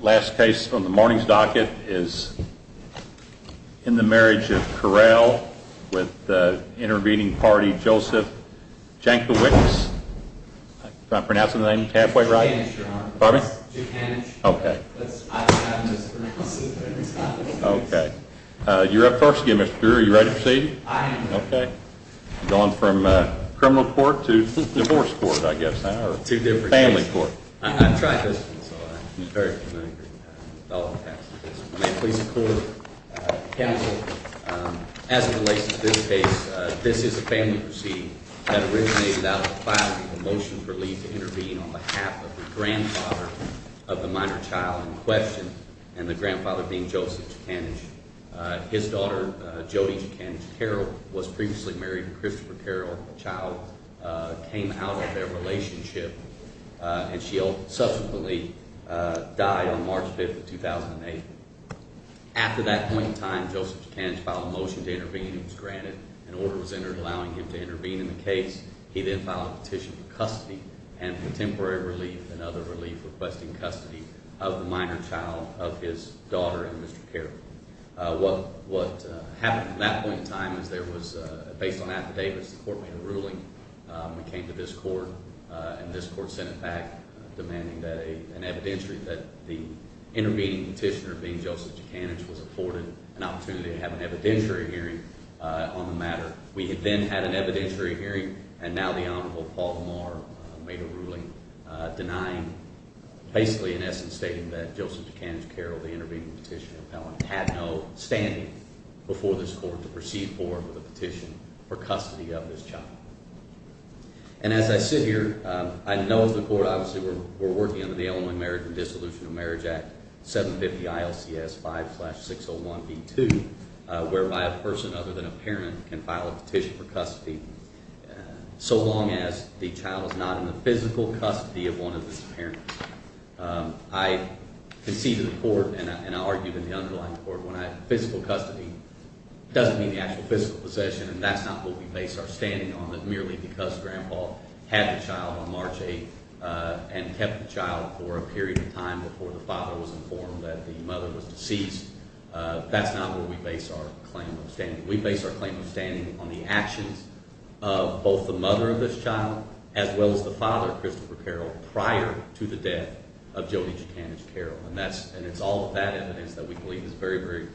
Last case on the morning's docket is in the Marriage of Carrell with the intervening party, Joseph Jankiewicz. Am I pronouncing the name halfway right? Jankiewicz, Your Honor. Pardon me? Jankiewicz. Okay. I have mispronounced it every time. Okay. You're up first again, Mr. Brewer. Are you ready to proceed? I am. Okay. We're going from criminal court to divorce court, I guess now, or family court. I've tried this one, so I'm very familiar with all the facts of this one. May it please the court, counsel, as it relates to this case, this is a family proceeding that originated out of a filing of a motion for leave to intervene on behalf of the grandfather of the minor child in question, and the grandfather being Joseph Jankiewicz. His daughter, Jody Jankiewicz, Carrell, was previously married to Christopher Carrell, a child, came out of their relationship, and she subsequently died on March 5, 2008. After that point in time, Joseph Jankiewicz filed a motion to intervene. It was granted. An order was entered allowing him to intervene in the case. He then filed a petition for custody and for temporary relief and other relief requesting custody of the minor child of his daughter and Mr. Carrell. What happened at that point in time is there was, based on affidavits, the court made a ruling. It came to this court, and this court sent it back demanding that an evidentiary, that the intervening petitioner being Joseph Jankiewicz was afforded an opportunity to have an evidentiary hearing on the matter. We then had an evidentiary hearing, and now the Honorable Paul Lamar made a ruling denying, basically in essence stating that Joseph Jankiewicz Carrell, the intervening petitioner appellant, had no standing before this court to proceed forward with a petition for custody of his child. And as I sit here, I know the court obviously we're working under the Illinois Marriage and Dissolution of Marriage Act 750-ILCS-5-601B2, whereby a person other than a parent can file a petition for custody so long as the child is not in the physical custody of one of his parents. I conceded the court, and I argued in the underlying court, when I said physical custody doesn't mean the actual physical possession, and that's not what we base our standing on, that merely because Grandpa had the child on March 8th and kept the child for a period of time before the father was informed that the mother was deceased, that's not where we base our claim of standing. It's prior to the death of Jody Jankiewicz Carrell, and that's – and it's all of that evidence that we believe is very, very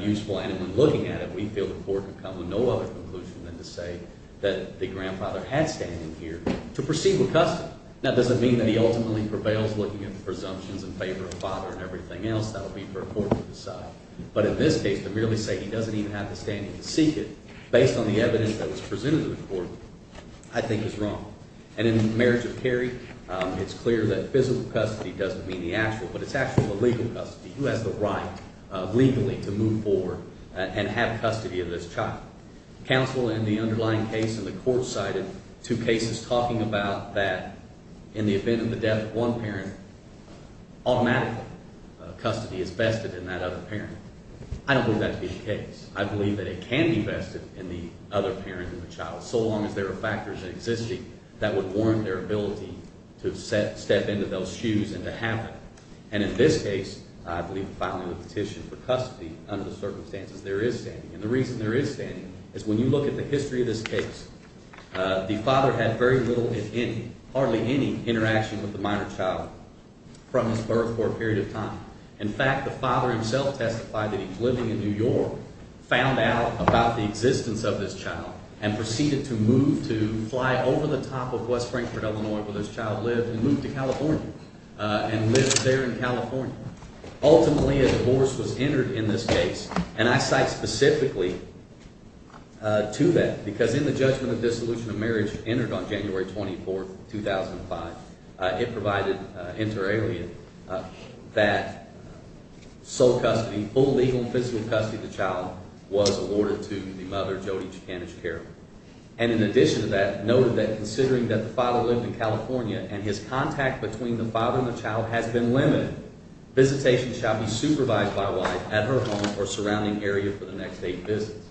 useful, and in looking at it, we feel the court can come to no other conclusion than to say that the grandfather had standing here to proceed with custody. Now, does it mean that he ultimately prevails looking at the presumptions in favor of father and everything else? That would be for the court to decide. But in this case, to merely say he doesn't even have the standing to seek it based on the evidence that was presented to the court I think is wrong. And in the marriage of Kerry, it's clear that physical custody doesn't mean the actual, but it's actually the legal custody. He has the right legally to move forward and have custody of this child. Counsel in the underlying case in the court cited two cases talking about that in the event of the death of one parent, automatically custody is vested in that other parent. I don't believe that to be the case. I believe that it can be vested in the other parent of the child so long as there are factors existing that would warrant their ability to step into those shoes and to have it. And in this case, I believe filing a petition for custody under the circumstances there is standing. And the reason there is standing is when you look at the history of this case, the father had very little, if any, hardly any interaction with the minor child from his birth for a period of time. In fact, the father himself testified that he was living in New York, found out about the existence of this child, and proceeded to move to fly over the top of West Frankfurt, Illinois, where this child lived, and moved to California and lived there in California. Ultimately, a divorce was entered in this case, and I cite specifically to that because in the judgment of dissolution of marriage entered on January 24th, 2005, it provided inter alia that sole custody, full legal and physical custody of the child was awarded to the mother, Jody Chicanich Carroll. And in addition to that, noted that considering that the father lived in California and his contact between the father and the child has been limited, visitation shall be supervised by wife at her home or surrounding area for the next eight visits.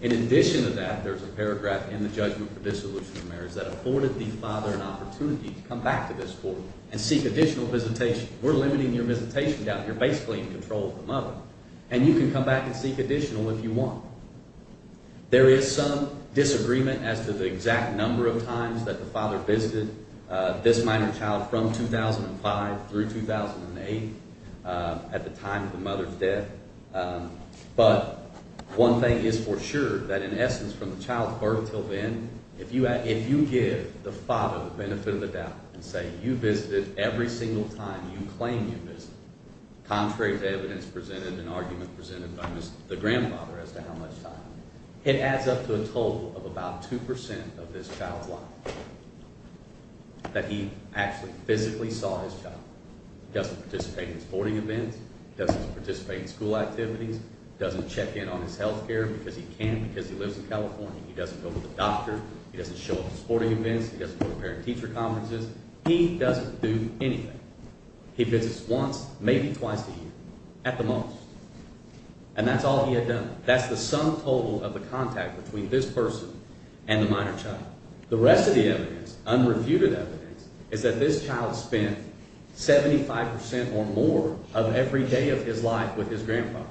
In addition to that, there's a paragraph in the judgment for dissolution of marriage that afforded the father an opportunity to come back to this court and seek additional visitation. We're limiting your visitation down here, basically in control of the mother. And you can come back and seek additional if you want. There is some disagreement as to the exact number of times that the father visited this minor child from 2005 through 2008 at the time of the mother's death. But one thing is for sure that in essence from the child's birth until then, if you give the father the benefit of the doubt and say you visited every single time you claim you visited, contrary to evidence presented and argument presented by the grandfather as to how much time, it adds up to a total of about 2% of this child's life that he actually physically saw his child. He doesn't participate in sporting events. He doesn't participate in school activities. He doesn't check in on his health care because he can because he lives in California. He doesn't go to the doctor. He doesn't show up to sporting events. He doesn't go to parent-teacher conferences. He doesn't do anything. He visits once, maybe twice a year at the most. And that's all he had done. That's the sum total of the contact between this person and the minor child. The rest of the evidence, unrefuted evidence, is that this child spent 75% or more of every day of his life with his grandfather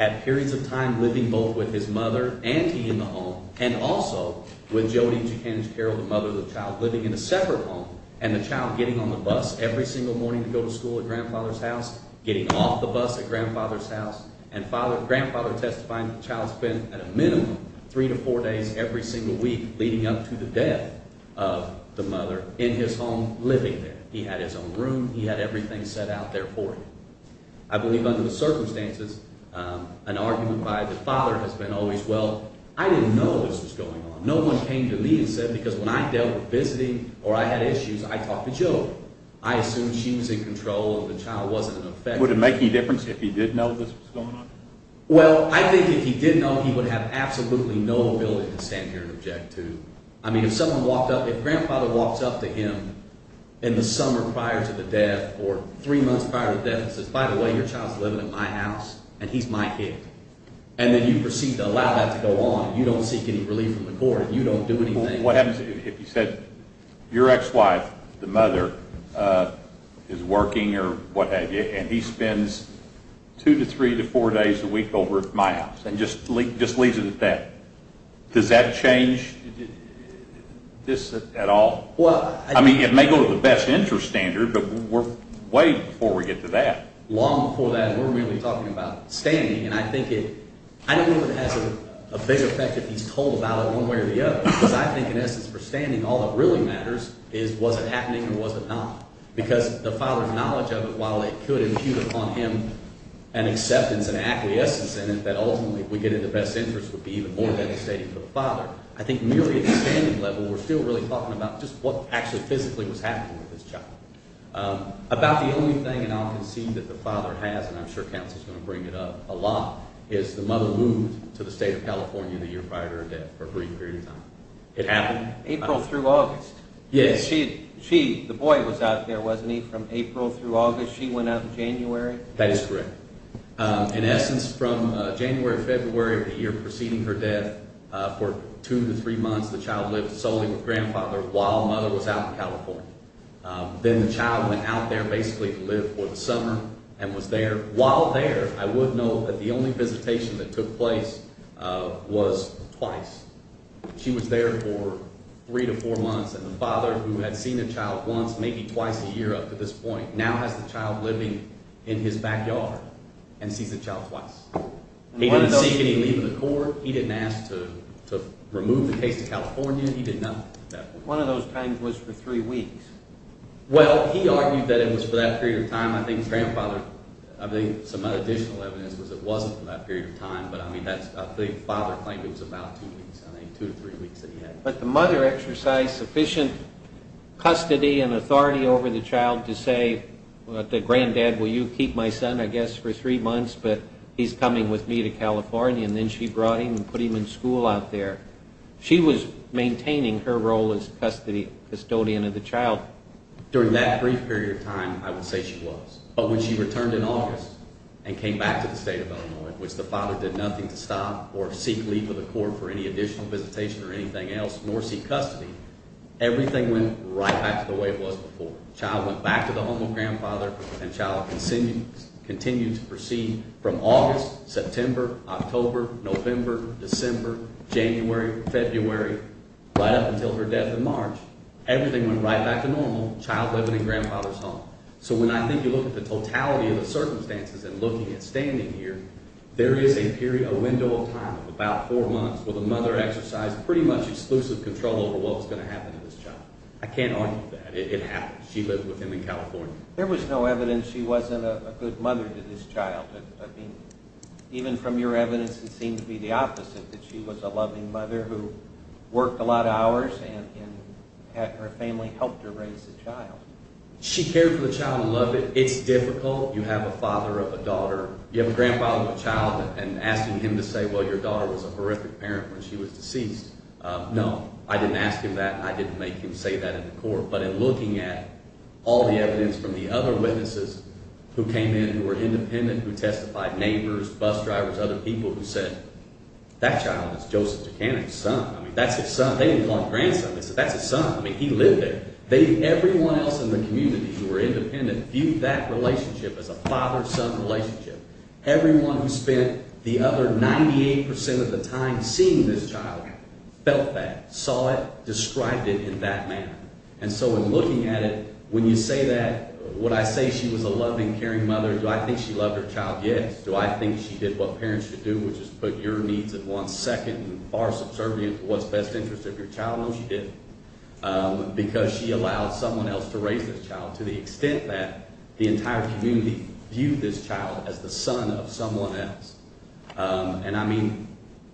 at periods of time living both with his mother and he in the home and also with Jody, Jekinj, Carol, the mother of the child, living in a separate home and the child getting on the bus every single morning to go to school at Grandfather's house, getting off the bus at Grandfather's house. And Grandfather testifying that the child spent at a minimum three to four days every single week leading up to the death of the mother in his home living there. He had his own room. He had everything set out there for him. I believe under the circumstances, an argument by the father has been always, well, I didn't know this was going on. No one came to me and said because when I dealt with visiting or I had issues, I talked to Jody. I assumed she was in control and the child wasn't affected. Would it make any difference if he did know this was going on? Well, I think if he did know, he would have absolutely no ability to stand here and object to. I mean, if someone walked up, if Grandfather walks up to him in the summer prior to the death or three months prior to the death and says, by the way, your child's living in my house and he's my kid, and then you proceed to allow that to go on, you don't seek any relief from the court. You don't do anything. What happens if you said your ex-wife, the mother, is working or what have you, and he spends two to three to four days a week over at my house and just leaves it at that? Does that change this at all? I mean, it may go to the best interest standard, but we're way before we get to that. Long before that, we're really talking about standing, and I think it – I don't know if it has a big effect if he's told about it one way or the other. But I think in essence for standing, all that really matters is was it happening or was it not? Because the father's knowledge of it, while it could impute upon him an acceptance, an acquiescence in it that ultimately would get in the best interest would be even more devastating for the father. I think merely at the standing level, we're still really talking about just what actually physically was happening with this child. About the only thing, and I'll concede that the father has, and I'm sure counsel's going to bring it up a lot, is the mother moved to the state of California the year prior to her death for a brief period of time. It happened? April through August. Yes. She – the boy was out there, wasn't he, from April through August. She went out in January. That is correct. In essence, from January or February of the year preceding her death, for two to three months the child lived solely with grandfather while mother was out in California. Then the child went out there basically to live for the summer and was there. While there, I would note that the only visitation that took place was twice. She was there for three to four months, and the father, who had seen the child once, maybe twice a year up to this point, now has the child living in his backyard. And sees the child twice. He didn't seek any leave of the court. He didn't ask to remove the case to California. He didn't – One of those times was for three weeks. Well, he argued that it was for that period of time. I think grandfather – I think some additional evidence was it wasn't for that period of time, but I mean that's – I think father claimed it was about two weeks, I think, two to three weeks that he had. But the mother exercised sufficient custody and authority over the child to say, the granddad, will you keep my son, I guess, for three months, but he's coming with me to California. And then she brought him and put him in school out there. She was maintaining her role as custodian of the child. During that brief period of time, I would say she was. But when she returned in August and came back to the state of Illinois, which the father did nothing to stop or seek leave of the court for any additional visitation or anything else, nor seek custody, everything went right back to the way it was before. The child went back to the home of grandfather, and the child continued to proceed from August, September, October, November, December, January, February, right up until her death in March. Everything went right back to normal, the child living in grandfather's home. So when I think you look at the totality of the circumstances and looking at standing here, there is a window of time of about four months where the mother exercised pretty much exclusive control over what was going to happen to this child. I can't argue with that. It happened. She lived with him in California. There was no evidence she wasn't a good mother to this child. I mean, even from your evidence, it seems to be the opposite, that she was a loving mother who worked a lot of hours and her family helped her raise the child. She cared for the child and loved it. It's difficult. You have a father of a daughter. You have a grandfather of a child, and asking him to say, well, your daughter was a horrific parent when she was deceased, no, I didn't ask him that, and I didn't make him say that in court. But in looking at all the evidence from the other witnesses who came in who were independent, who testified, neighbors, bus drivers, other people who said, that child is Joseph DeCanning's son. I mean, that's his son. They didn't call him grandson. They said, that's his son. I mean, he lived there. Everyone else in the community who were independent viewed that relationship as a father-son relationship. Everyone who spent the other 98% of the time seeing this child felt that, saw it, described it in that manner. And so in looking at it, when you say that, would I say she was a loving, caring mother? Do I think she loved her child? Yes. Do I think she did what parents should do, which is put your needs at once, second, and far subservient to what's best interest of your child? No, she didn't, because she allowed someone else to raise this child to the extent that the entire community viewed this child as the son of someone else. And I mean,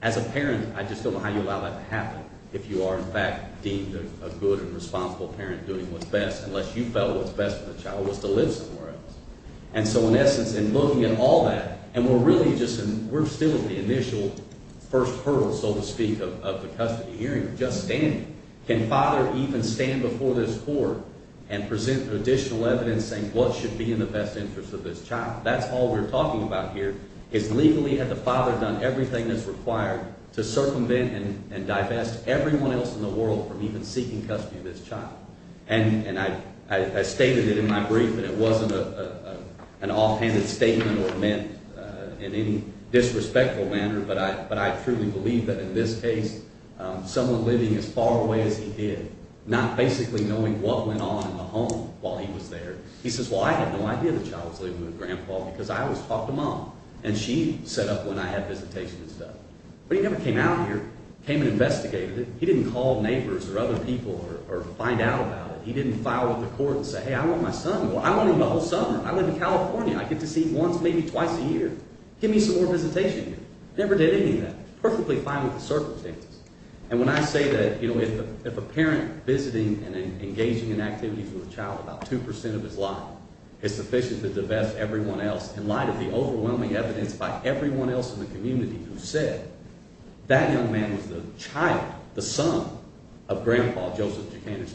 as a parent, I just don't know how you allow that to happen if you are, in fact, deemed a good and responsible parent doing what's best, unless you felt what's best for the child was to live somewhere else. And so in essence, in looking at all that, and we're really just – we're still at the initial first hurdle, so to speak, of the custody hearing. We're just standing. Can father even stand before this court and present additional evidence saying what should be in the best interest of this child? That's all we're talking about here is legally had the father done everything that's required to circumvent and divest everyone else in the world from even seeking custody of this child. And I stated it in my brief, and it wasn't an offhanded statement or meant in any disrespectful manner, but I truly believe that in this case someone living as far away as he did, not basically knowing what went on in the home while he was there. He says, well, I had no idea the child was living with Grandpa because I always talked to Mom, and she set up when I had visitation and stuff. But he never came out here, came and investigated it. He didn't call neighbors or other people or find out about it. He didn't file with the court and say, hey, I want my son. Well, I want him the whole summer. I live in California. I get to see him once, maybe twice a year. Give me some more visitation here. Never did any of that. Perfectly fine with the circumstances. And when I say that if a parent visiting and engaging in activities with a child about 2% of his life is sufficient to divest everyone else in light of the overwhelming evidence by everyone else in the community who said that young man was the child, the son of Grandpa Joseph Jokanich.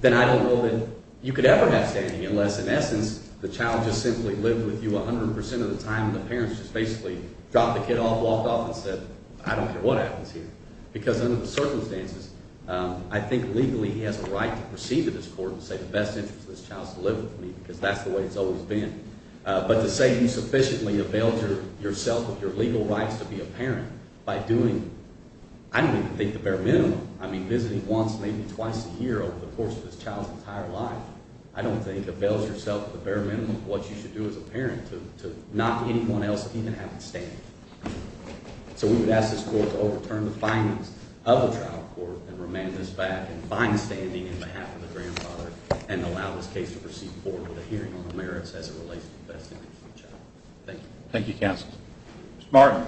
Then I don't know that you could ever have standing unless, in essence, the child just simply lived with you 100% of the time and the parents just basically dropped the kid off, walked off, and said, I don't care what happens here. Because under the circumstances, I think legally he has a right to proceed to this court and say the best interest of this child is to live with me because that's the way it's always been. But to say you sufficiently availed yourself of your legal rights to be a parent by doing, I don't even think the bare minimum. I mean visiting once, maybe twice a year over the course of this child's entire life, I don't think avails yourself the bare minimum of what you should do as a parent to not anyone else even having standing. So we would ask this court to overturn the findings of the trial court and remand this back in fine standing on behalf of the grandfather and allow this case to proceed forward with a hearing on the merits as it relates to the best interest of the child. Thank you. Thank you, counsel. Mr. Martin.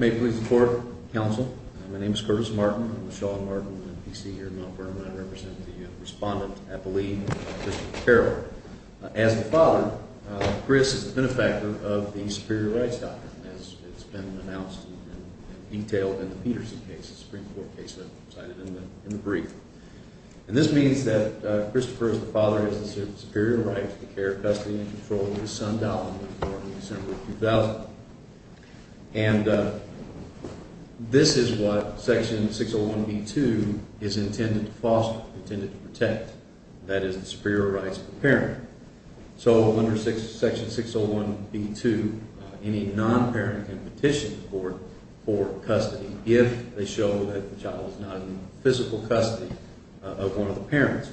May it please the court, counsel. My name is Curtis Martin. I'm a Sean Martin NPC here in Mount Vernon. I represent the respondent, I believe, Christopher Carroll. As the father, Chris has been a factor of the Superior Rights Doctrine, as it's been announced and detailed in the Peterson case, the Supreme Court case that I cited in the brief. And this means that Christopher, as the father, has the superior right to the care, custody, and control of his son, Donald, before December 2000. And this is what Section 601B2 is intended to foster, intended to protect, that is, the superior rights of the parent. So under Section 601B2, any non-parent can petition the court for custody if they show that the child is not in physical custody of one of the parents.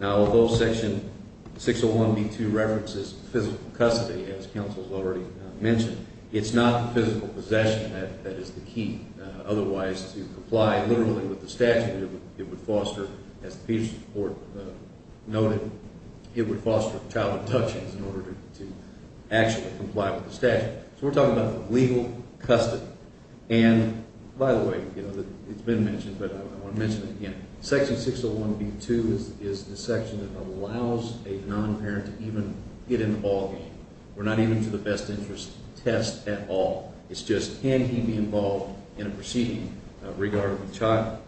Now, although Section 601B2 references physical custody, as counsel has already mentioned, it's not the physical possession that is the key. Otherwise, to comply literally with the statute, it would foster, as the Peterson report noted, it would foster child abductions in order to actually comply with the statute. So we're talking about legal custody. And, by the way, it's been mentioned, but I want to mention it again. Section 601B2 is the section that allows a non-parent to even get in the ballgame. We're not even to the best interest test at all. It's just, can he be involved in a proceeding regarding the child?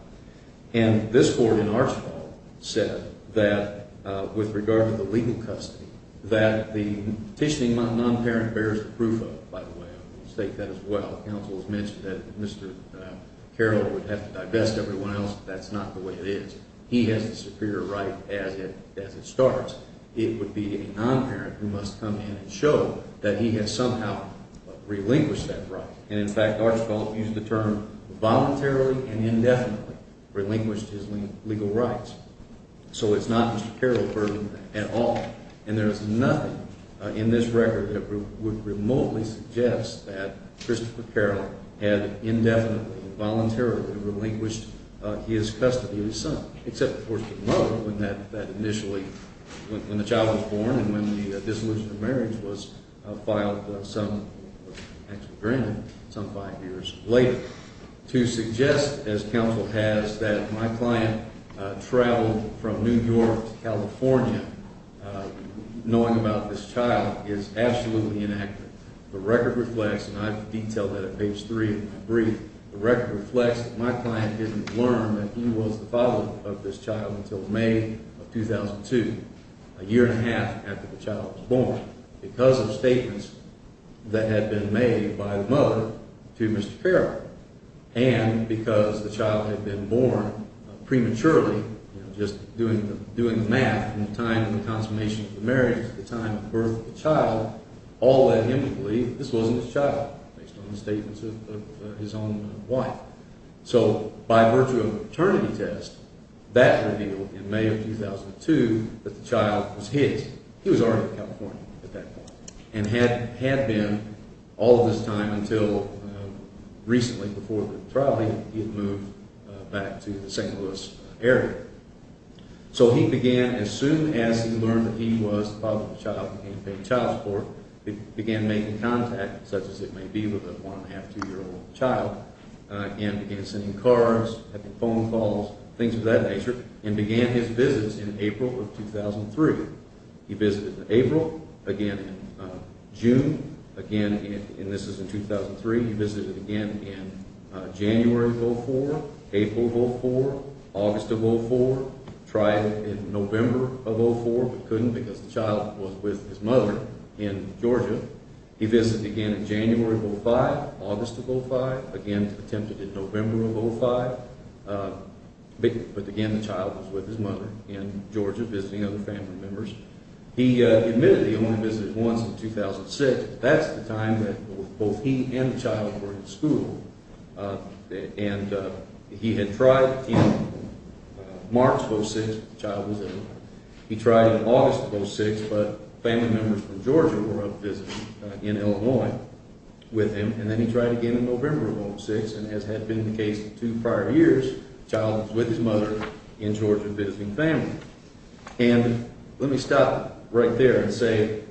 And this court in Archibald said that, with regard to the legal custody, that the petitioning non-parent bears the proof of, by the way. I will state that as well. Counsel has mentioned that Mr. Carroll would have to divest everyone else, but that's not the way it is. He has the superior right as it starts. It would be a non-parent who must come in and show that he has somehow relinquished that right. And, in fact, Archibald used the term voluntarily and indefinitely relinquished his legal rights. So it's not Mr. Carroll's burden at all. And there is nothing in this record that would remotely suggest that Christopher Carroll had indefinitely and voluntarily relinquished his custody of his son. Except, of course, for the mother when that initially, when the child was born and when the dissolution of marriage was filed some, actually granted, some five years later. To suggest, as counsel has, that my client traveled from New York to California knowing about this child is absolutely inaccurate. The record reflects, and I've detailed that at page three of my brief, the record reflects that my client didn't learn that he was the father of this child until May of 2002, a year and a half after the child was born. Because of statements that had been made by the mother to Mr. Carroll and because the child had been born prematurely, just doing the math from the time of the consummation of the marriage to the time of the birth of the child, all led him to believe this wasn't his child, based on the statements of his own wife. So, by virtue of a paternity test, that revealed in May of 2002 that the child was his. He was already in California at that point and had been all of this time until recently before the trial he had moved back to the St. Louis area. So, he began, as soon as he learned that he was the father of the child, became paid child support, began making contact, such as it may be, with a one and a half, two year old child, and began sending cards, having phone calls, things of that nature, and began his visits in April of 2003. He visited in April, again in June, again, and this is in 2003, he visited again in January of 2004, April of 2004, August of 2004, tried in November of 2004, but couldn't because the child was with his mother in Georgia. He visited again in January of 2005, August of 2005, again attempted in November of 2005, but again the child was with his mother in Georgia visiting other family members. He admitted he only visited once in 2006, but that's the time that both he and the child were in school, and he had tried in March of 2006, the child was in, he tried in August of 2006, but family members from Georgia were up visiting in Illinois with him, and then he tried again in November of 2006, and as had been the case in two prior years, the child was with his mother in Georgia visiting family. And let me stop right there and say,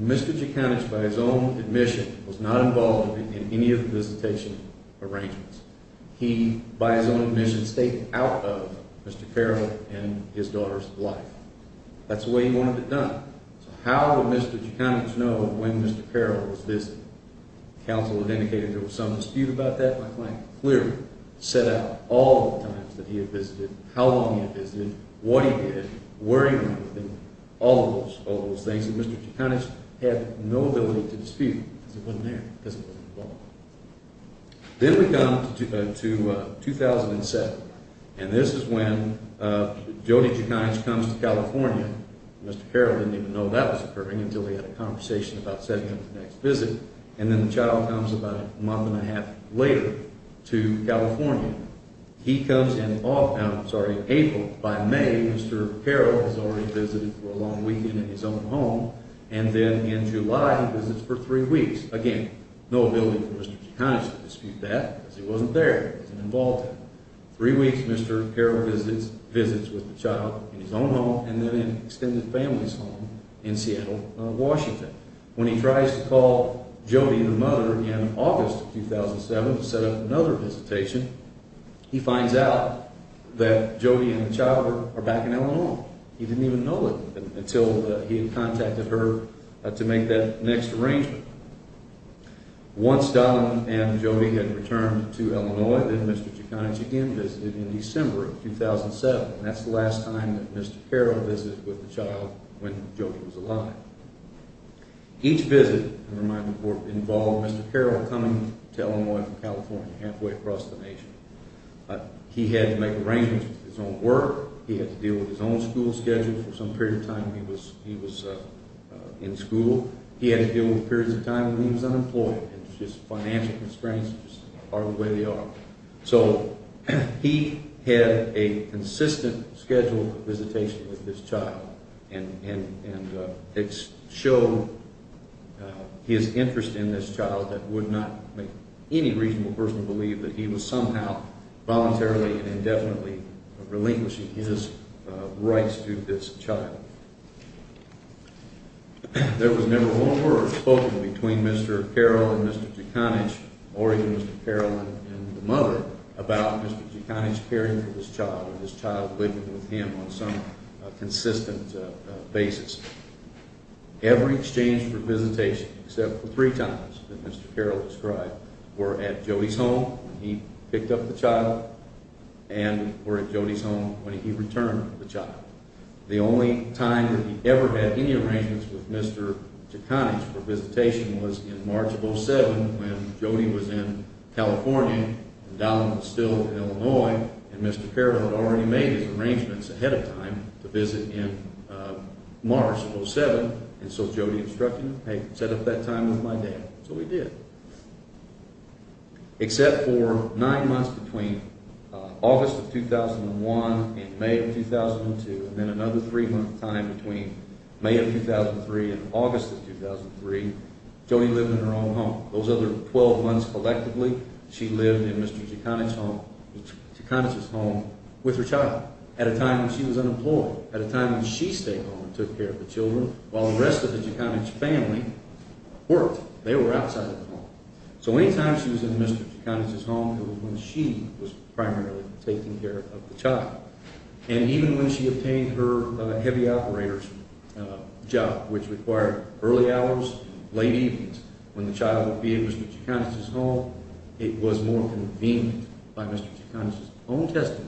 Mr. Jaconich, by his own admission, was not involved in any of the visitation arrangements. He, by his own admission, stayed out of Mr. Carroll and his daughter's life. That's the way he wanted it done. So how would Mr. Jaconich know when Mr. Carroll was visiting? Counsel had indicated there was some dispute about that. My client clearly set out all the times that he had visited, how long he had visited, what he did, where he went with him, all those things that Mr. Jaconich had no ability to dispute because he wasn't there, because he wasn't involved. Then we come to 2007, and this is when Jody Jaconich comes to California. Mr. Carroll didn't even know that was occurring until he had a conversation about setting up the next visit, and then the child comes about a month and a half later to California. He comes in April. By May, Mr. Carroll has already visited for a long weekend in his own home, and then in July, he visits for three weeks. Again, no ability for Mr. Jaconich to dispute that because he wasn't there, he wasn't involved. Three weeks, Mr. Carroll visits with the child in his own home, and then in an extended family's home in Seattle, Washington. When he tries to call Jody, the mother, in August of 2007 to set up another visitation, he finds out that Jody and the child are back in Illinois. He didn't even know it until he had contacted her to make that next arrangement. Once Don and Jody had returned to Illinois, then Mr. Jaconich again visited in December of 2007. That's the last time that Mr. Carroll visited with the child when Jody was alive. Each visit involved Mr. Carroll coming to Illinois from California halfway across the nation. He had to make arrangements with his own work, he had to deal with his own school schedule for some period of time when he was in school, he had to deal with periods of time when he was unemployed, and just financial constraints are the way they are. So, he had a consistent scheduled visitation with this child, and it showed his interest in this child that would not make any reasonable person believe that he was somehow voluntarily and indefinitely relinquishing his rights to this child. There was never one word spoken between Mr. Carroll and Mr. Jaconich, or even Mr. Carroll and the mother, about Mr. Jaconich caring for this child or this child living with him on some consistent basis. Every exchange for visitation, except for three times that Mr. Carroll described, were at Jody's home when he picked up the child, and were at Jody's home when he returned the child. The only time that he ever had any arrangements with Mr. Jaconich for visitation was in March of 2007, when Jody was in California, and Donald was still in Illinois, and Mr. Carroll had already made his arrangements ahead of time to visit in March of 2007, and so Jody instructed him, hey, set up that time with my dad. So, he did, except for nine months between August of 2001 and May of 2002, and then another three-month time between May of 2003 and August of 2003, Jody lived in her own home. Those other 12 months, collectively, she lived in Mr. Jaconich's home with her child, at a time when she was unemployed, at a time when she stayed home and took care of the children, while the rest of the Jaconich family worked. They were outside of the home. So, any time she was in Mr. Jaconich's home, it was when she was primarily taking care of the child, and even when she obtained her heavy operator's job, which required early hours, late evenings, when the child would be at Mr. Jaconich's home, it was more convenient by Mr. Jaconich's own testimony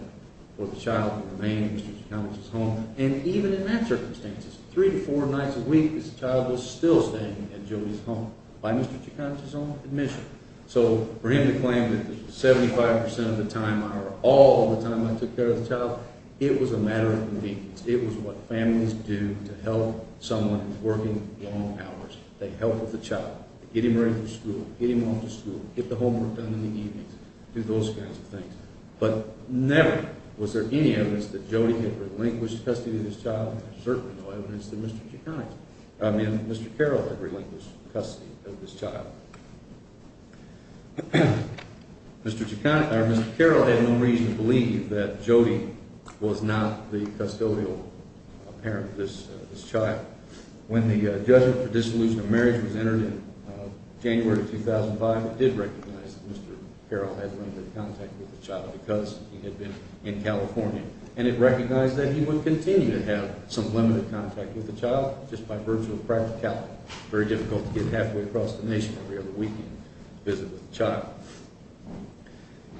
for the child to remain at Mr. Jaconich's home, and even in that circumstance, three to four nights a week, the child was still staying at Jody's home. By Mr. Jaconich's own admission. So, for him to claim that 75% of the time, or all of the time I took care of the child, it was a matter of convenience. It was what families do to help someone who's working long hours. They help with the child, get him ready for school, get him off to school, get the homework done in the evenings, do those kinds of things. But never was there any evidence that Jody had relinquished custody of this child, and certainly no evidence that Mr. Jaconich, I mean Mr. Carroll had relinquished custody of this child. Mr. Jaconich, or Mr. Carroll had no reason to believe that Jody was not the custodial parent of this child. When the judgment for dissolution of marriage was entered in January 2005, it did recognize that Mr. Carroll had limited contact with the child because he had been in California, and it recognized that he would continue to have some limited contact with the child just by virtue of practicality. Very difficult to get halfway across the nation every other weekend to visit with the child.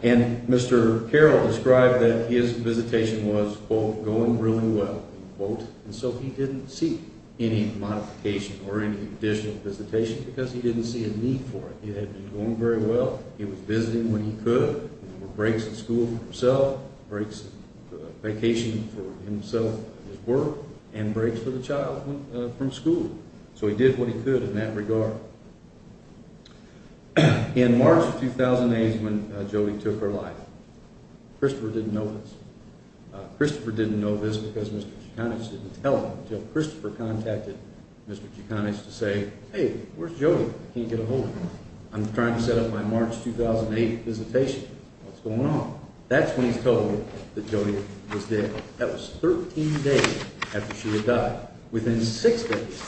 And Mr. Carroll described that his visitation was, quote, going really well, end quote, and so he didn't see any modification or any additional visitation because he didn't see a need for it. He had been doing very well. He was visiting when he could. There were breaks at school for himself, breaks on vacation for himself and his work, and breaks for the child from school. So he did what he could in that regard. In March 2008 when Jody took her life, Christopher didn't know this. Christopher didn't know this because Mr. Jaconich didn't tell him until Christopher contacted Mr. Jaconich to say, hey, where's Jody? I can't get a hold of her. I'm trying to set up my March 2008 visitation. What's going on? That's when he told him that Jody was dead. That was 13 days after she had died. Within six days,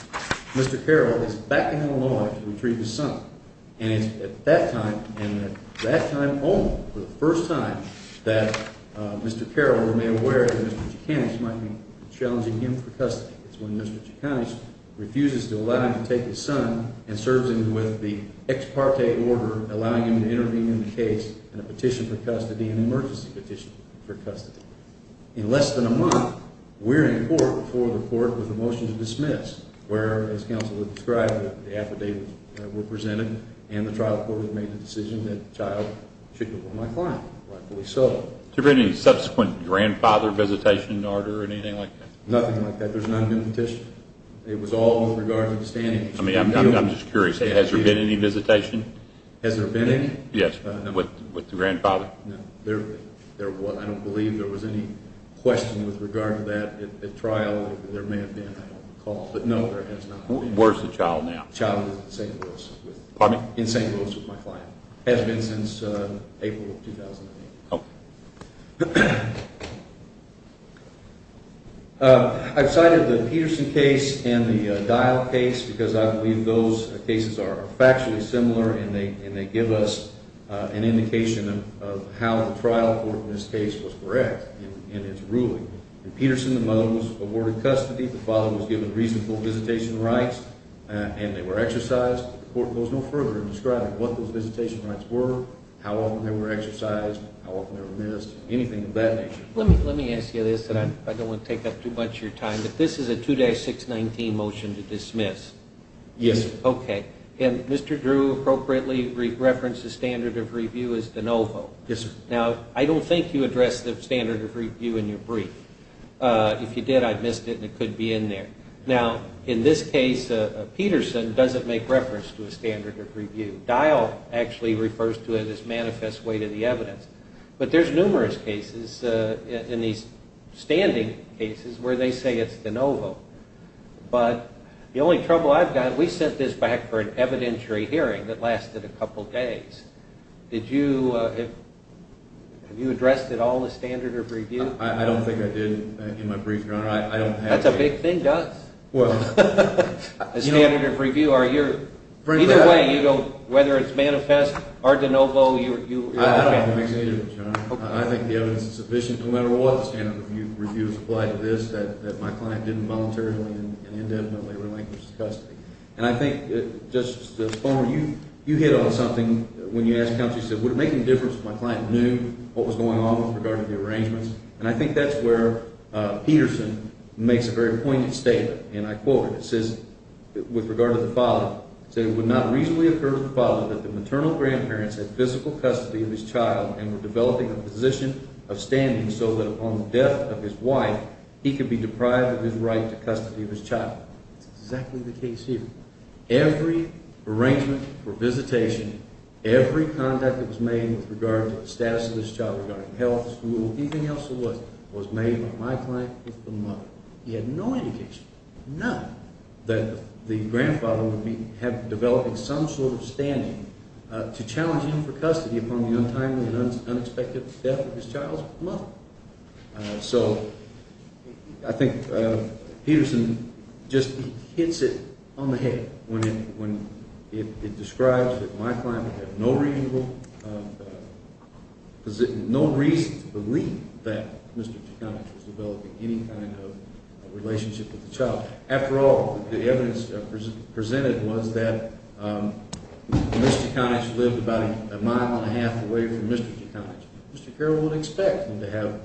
Mr. Carroll is back in the law to retrieve his son. And it's at that time and at that time only, for the first time, that Mr. Carroll remained aware that Mr. Jaconich might be challenging him for custody. It's when Mr. Jaconich refuses to allow him to take his son and serves him with the ex parte order allowing him to intervene in the case and a petition for custody, an emergency petition for custody. In less than a month, we're in court before the court with a motion to dismiss where, as counsel described, the affidavits were presented and the trial court has made the decision that the child should become my client. Has there been any subsequent grandfather visitation in order or anything like that? Nothing like that. There's not been a petition. It was all with regard to the standings. I mean, I'm just curious. Has there been any visitation? Has there been any? Yes, with the grandfather. I don't believe there was any question with regard to that at trial. There may have been, I don't recall. But no, there has not been. Where's the child now? Pardon me? In St. Louis with my client. Has been since April of 2008. Okay. The court goes no further in describing what those visitation rights were, how often they were exercised, how often they were missed, anything of that nature. Let me ask you this, and I don't want to take up too much of your time, but this is a 2-619 motion to dismiss. Yes, sir. Okay. And Mr. Drew appropriately referenced the standard of review as de novo. Yes, sir. Now, I don't think you addressed the standard of review in your brief. If you did, I missed it and it could be in there. Now, in this case, Peterson doesn't make reference to a standard of review. Dial actually refers to it as manifest way to the evidence. But there's numerous cases in these standing cases where they say it's de novo. But the only trouble I've got, we sent this back for an evidentiary hearing that lasted a couple days. Did you address at all the standard of review? That's a big thing, Gus. The standard of review. Either way, whether it's manifest or de novo. I don't think it makes any difference. I think the evidence is sufficient. No matter what the standard of review is applied to this, that my client didn't voluntarily and indefinitely relinquish his custody. And I think, Justice Bonner, you hit on something when you asked County. You said, would it make any difference if my client knew what was going on with regard to the arrangements? And I think that's where Peterson makes a very pointed statement. And I quote it. It says, with regard to the father, it would not reasonably occur to the father that the maternal grandparents had physical custody of his child and were developing a position of standing so that upon the death of his wife, he could be deprived of his right to custody of his child. That's exactly the case here. Every arrangement for visitation, every conduct that was made with regard to the status of this child, regarding health, school, anything else there was, was made by my client with the mother. He had no indication, none, that the grandfather would be developing some sort of standing to challenge him for custody upon the untimely and unexpected death of his child's mother. So I think Peterson just hits it on the head when it describes that my client had no reasonable, no reason to believe that Mr. Tuchonich was developing any kind of relationship with the child. After all, the evidence presented was that Mr. Tuchonich lived about a mile and a half away from Mr. Tuchonich. Mr. Carroll would expect him to have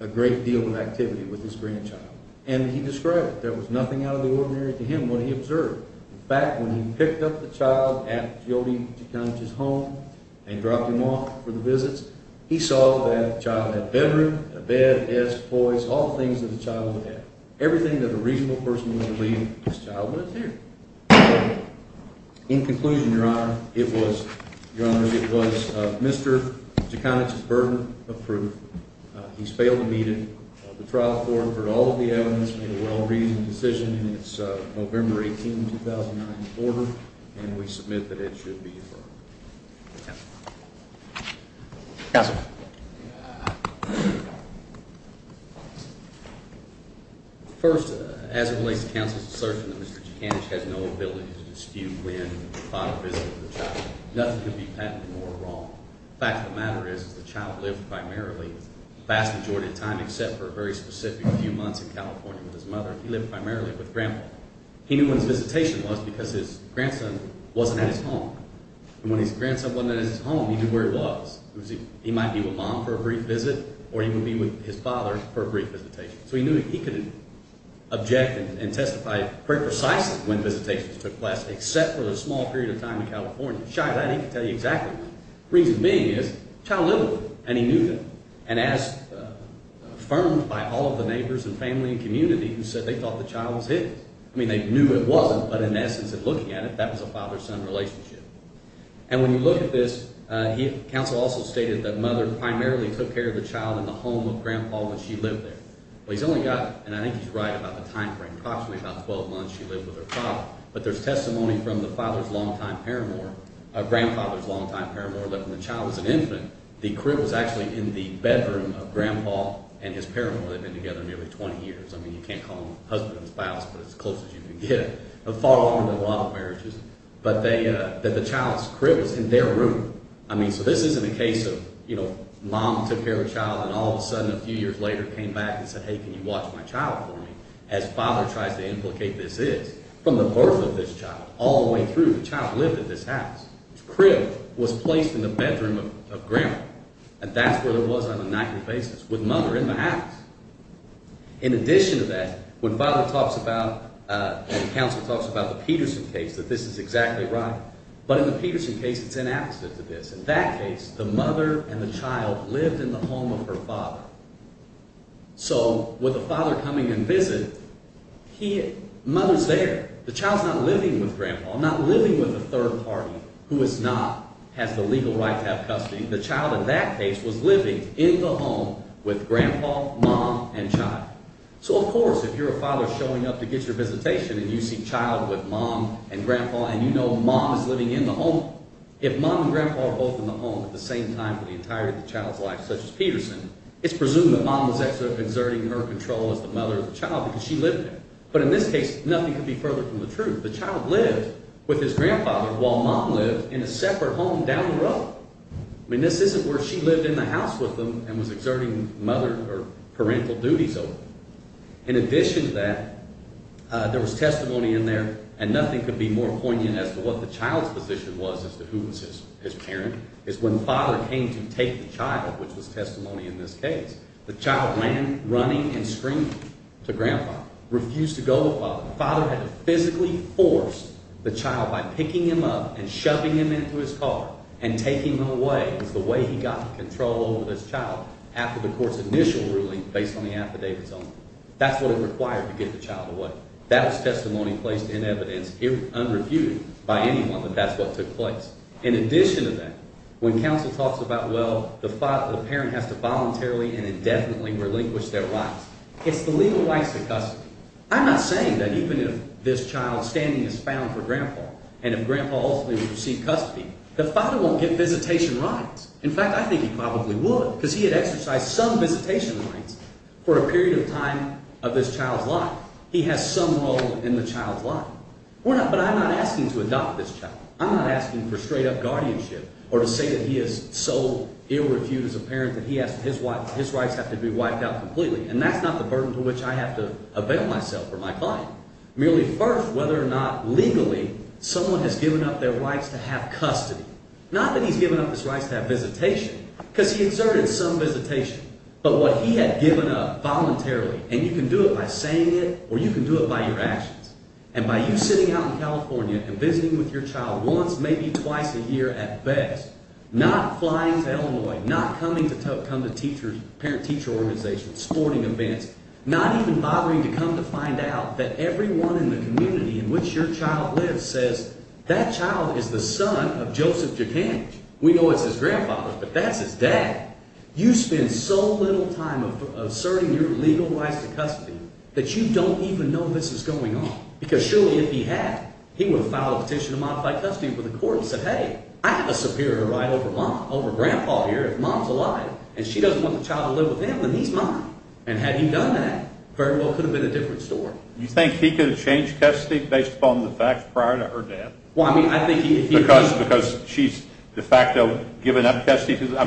a great deal of activity with his grandchild, and he described it. There was nothing out of the ordinary to him when he observed. In fact, when he picked up the child at Jody Tuchonich's home and dropped him off for the visits, he saw that the child had a bedroom, a bed, desk, toys, all things that a child would have. Everything that a reasonable person would believe this child was here. In conclusion, Your Honor, it was Mr. Tuchonich's burden of proof. He's failed to meet it. The trial court heard all of the evidence, made a well-reasoned decision, and it's November 18, 2009, in order, and we submit that it should be deferred. Counsel. First, as it relates to counsel's assertion that Mr. Tuchonich has no ability to dispute when he thought of visiting the child, nothing could be patented more wrong. The fact of the matter is that the child lived primarily, the vast majority of the time, except for a very specific few months in California with his mother, he lived primarily with Grandpa. He knew when his visitation was because his grandson wasn't at his home, and when his grandson wasn't at his home, he knew where he was. He might be with Mom for a brief visit, or he would be with his father for a brief visitation. So he knew he could object and testify very precisely when visitations took place, except for a small period of time in California. Shy as I'd be to tell you exactly when. The reason being is the child lived with him, and he knew that. And as affirmed by all of the neighbors and family and community who said they thought the child was his. I mean, they knew it wasn't, but in essence, in looking at it, that was a father-son relationship. And when you look at this, the counsel also stated that Mother primarily took care of the child in the home of Grandpa when she lived there. But he's only got, and I think he's right about the time frame, approximately about 12 months she lived with her father. But there's testimony from the father's long-time paramour, grandfather's long-time paramour, that when the child was an infant, the crib was actually in the bedroom of Grandpa and his paramour. They'd been together nearly 20 years. I mean, you can't call them husband and spouse, but it's as close as you can get. They fought on in a lot of marriages, but the child's crib was in their room. I mean, so this isn't a case of, you know, Mom took care of the child and all of a sudden a few years later came back and said, hey, can you watch my child for me, as Father tries to implicate this is. From the birth of this child all the way through, the child lived in this house. The crib was placed in the bedroom of Grandpa, and that's where it was on a nightly basis with Mother in the house. In addition to that, when Father talks about, when counsel talks about the Peterson case, that this is exactly right, but in the Peterson case it's the opposite of this. In that case, the mother and the child lived in the home of her father. So with the father coming and visiting, Mother's there. The child's not living with Grandpa. I'm not living with a third party who is not, has the legal right to have custody. The child in that case was living in the home with Grandpa, Mom, and Child. So, of course, if you're a father showing up to get your visitation and you see Child with Mom and Grandpa and you know Mom is living in the home, if Mom and Grandpa are both in the home at the same time for the entirety of the child's life, such as Peterson, it's presumed that Mom was actually exerting her control as the mother of the child because she lived there. But in this case, nothing could be further from the truth. The child lived with his grandfather while Mom lived in a separate home down the road. I mean, this isn't where she lived in the house with him and was exerting parental duties over him. In addition to that, there was testimony in there, and nothing could be more poignant as to what the child's position was as to who was his parent. It's when Father came to take the child, which was testimony in this case. The child ran running and screaming to Grandpa, refused to go with Father. Father had to physically force the child by picking him up and shoving him into his car and taking him away. It was the way he got control over this child after the court's initial ruling based on the affidavits only. That's what it required to get the child away. That was testimony placed in evidence, unreviewed, by anyone that that's what took place. In addition to that, when counsel talks about, well, the parent has to voluntarily and indefinitely relinquish their rights, it's the legal rights that custom. I'm not saying that even if this child's standing is found for Grandpa and if Grandpa ultimately would receive custody, the father won't get visitation rights. In fact, I think he probably would because he had exercised some visitation rights for a period of time of this child's life. He has some role in the child's life. But I'm not asking to adopt this child. I'm not asking for straight-up guardianship or to say that he is so ill-reviewed as a parent that his rights have to be wiped out completely. And that's not the burden to which I have to avail myself or my client. Merely first whether or not legally someone has given up their rights to have custody. Not that he's given up his rights to have visitation because he exerted some visitation. But what he had given up voluntarily, and you can do it by saying it or you can do it by your actions. And by you sitting out in California and visiting with your child once, maybe twice a year at best, not flying to Illinois, not coming to parent-teacher organizations, sporting events, not even bothering to come to find out that everyone in the community in which your child lives says, that child is the son of Joseph Dukang. We know it's his grandfather, but that's his dad. You spend so little time asserting your legal rights to custody that you don't even know this is going on. Because surely if he had, he would have filed a petition to modify custody before the court and said, hey, I have a superior right over mom, over grandpa here. If mom's alive and she doesn't want the child to live with him, then he's mine. And had he done that, very well could have been a different story. You think he could have changed custody based upon the facts prior to her death? Because she's de facto given up custody? Do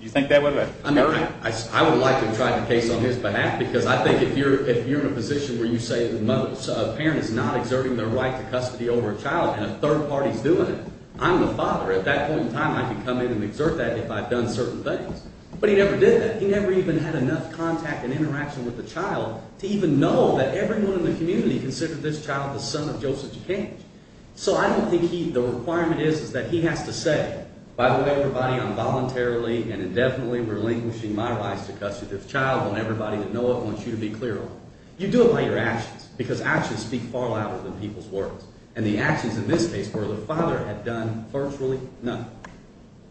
you think that would have happened? I would have liked to have tried the case on his behalf because I think if you're in a position where you say a parent is not exerting their right to custody over a child and a third party is doing it, I'm the father. At that point in time I can come in and exert that if I've done certain things. But he never did that. He never even had enough contact and interaction with the child to even know that everyone in the community considered this child the son of Joseph G. Cage. So I don't think the requirement is that he has to say, by way of everybody, I'm voluntarily and indefinitely relinquishing my rights to custody of this child. I want everybody to know it. I want you to be clear on it. You do it by your actions because actions speak far louder than people's words. And the actions in this case where the father had done virtually nothing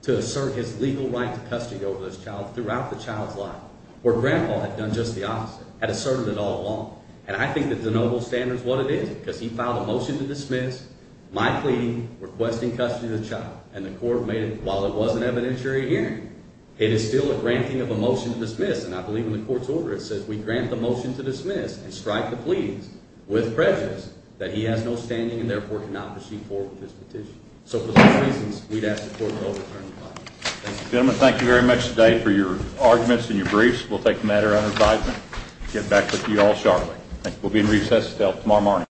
to assert his legal right to custody over this child throughout the child's life, where Grandpa had done just the opposite, had asserted it all along. And I think that the noble standard is what it is because he filed a motion to dismiss my pleading requesting custody of the child. And the court made it, while it was an evidentiary hearing, it is still a granting of a motion to dismiss. And I believe in the court's order it says we grant the motion to dismiss and strike the pleadings with prejudice that he has no standing and therefore cannot proceed forward with this petition. So for those reasons, we'd ask the court to overturn the claim. Thank you. Gentlemen, thank you very much today for your arguments and your briefs. We'll take the matter under advisement and get back with you all shortly. We'll be in recess until tomorrow morning.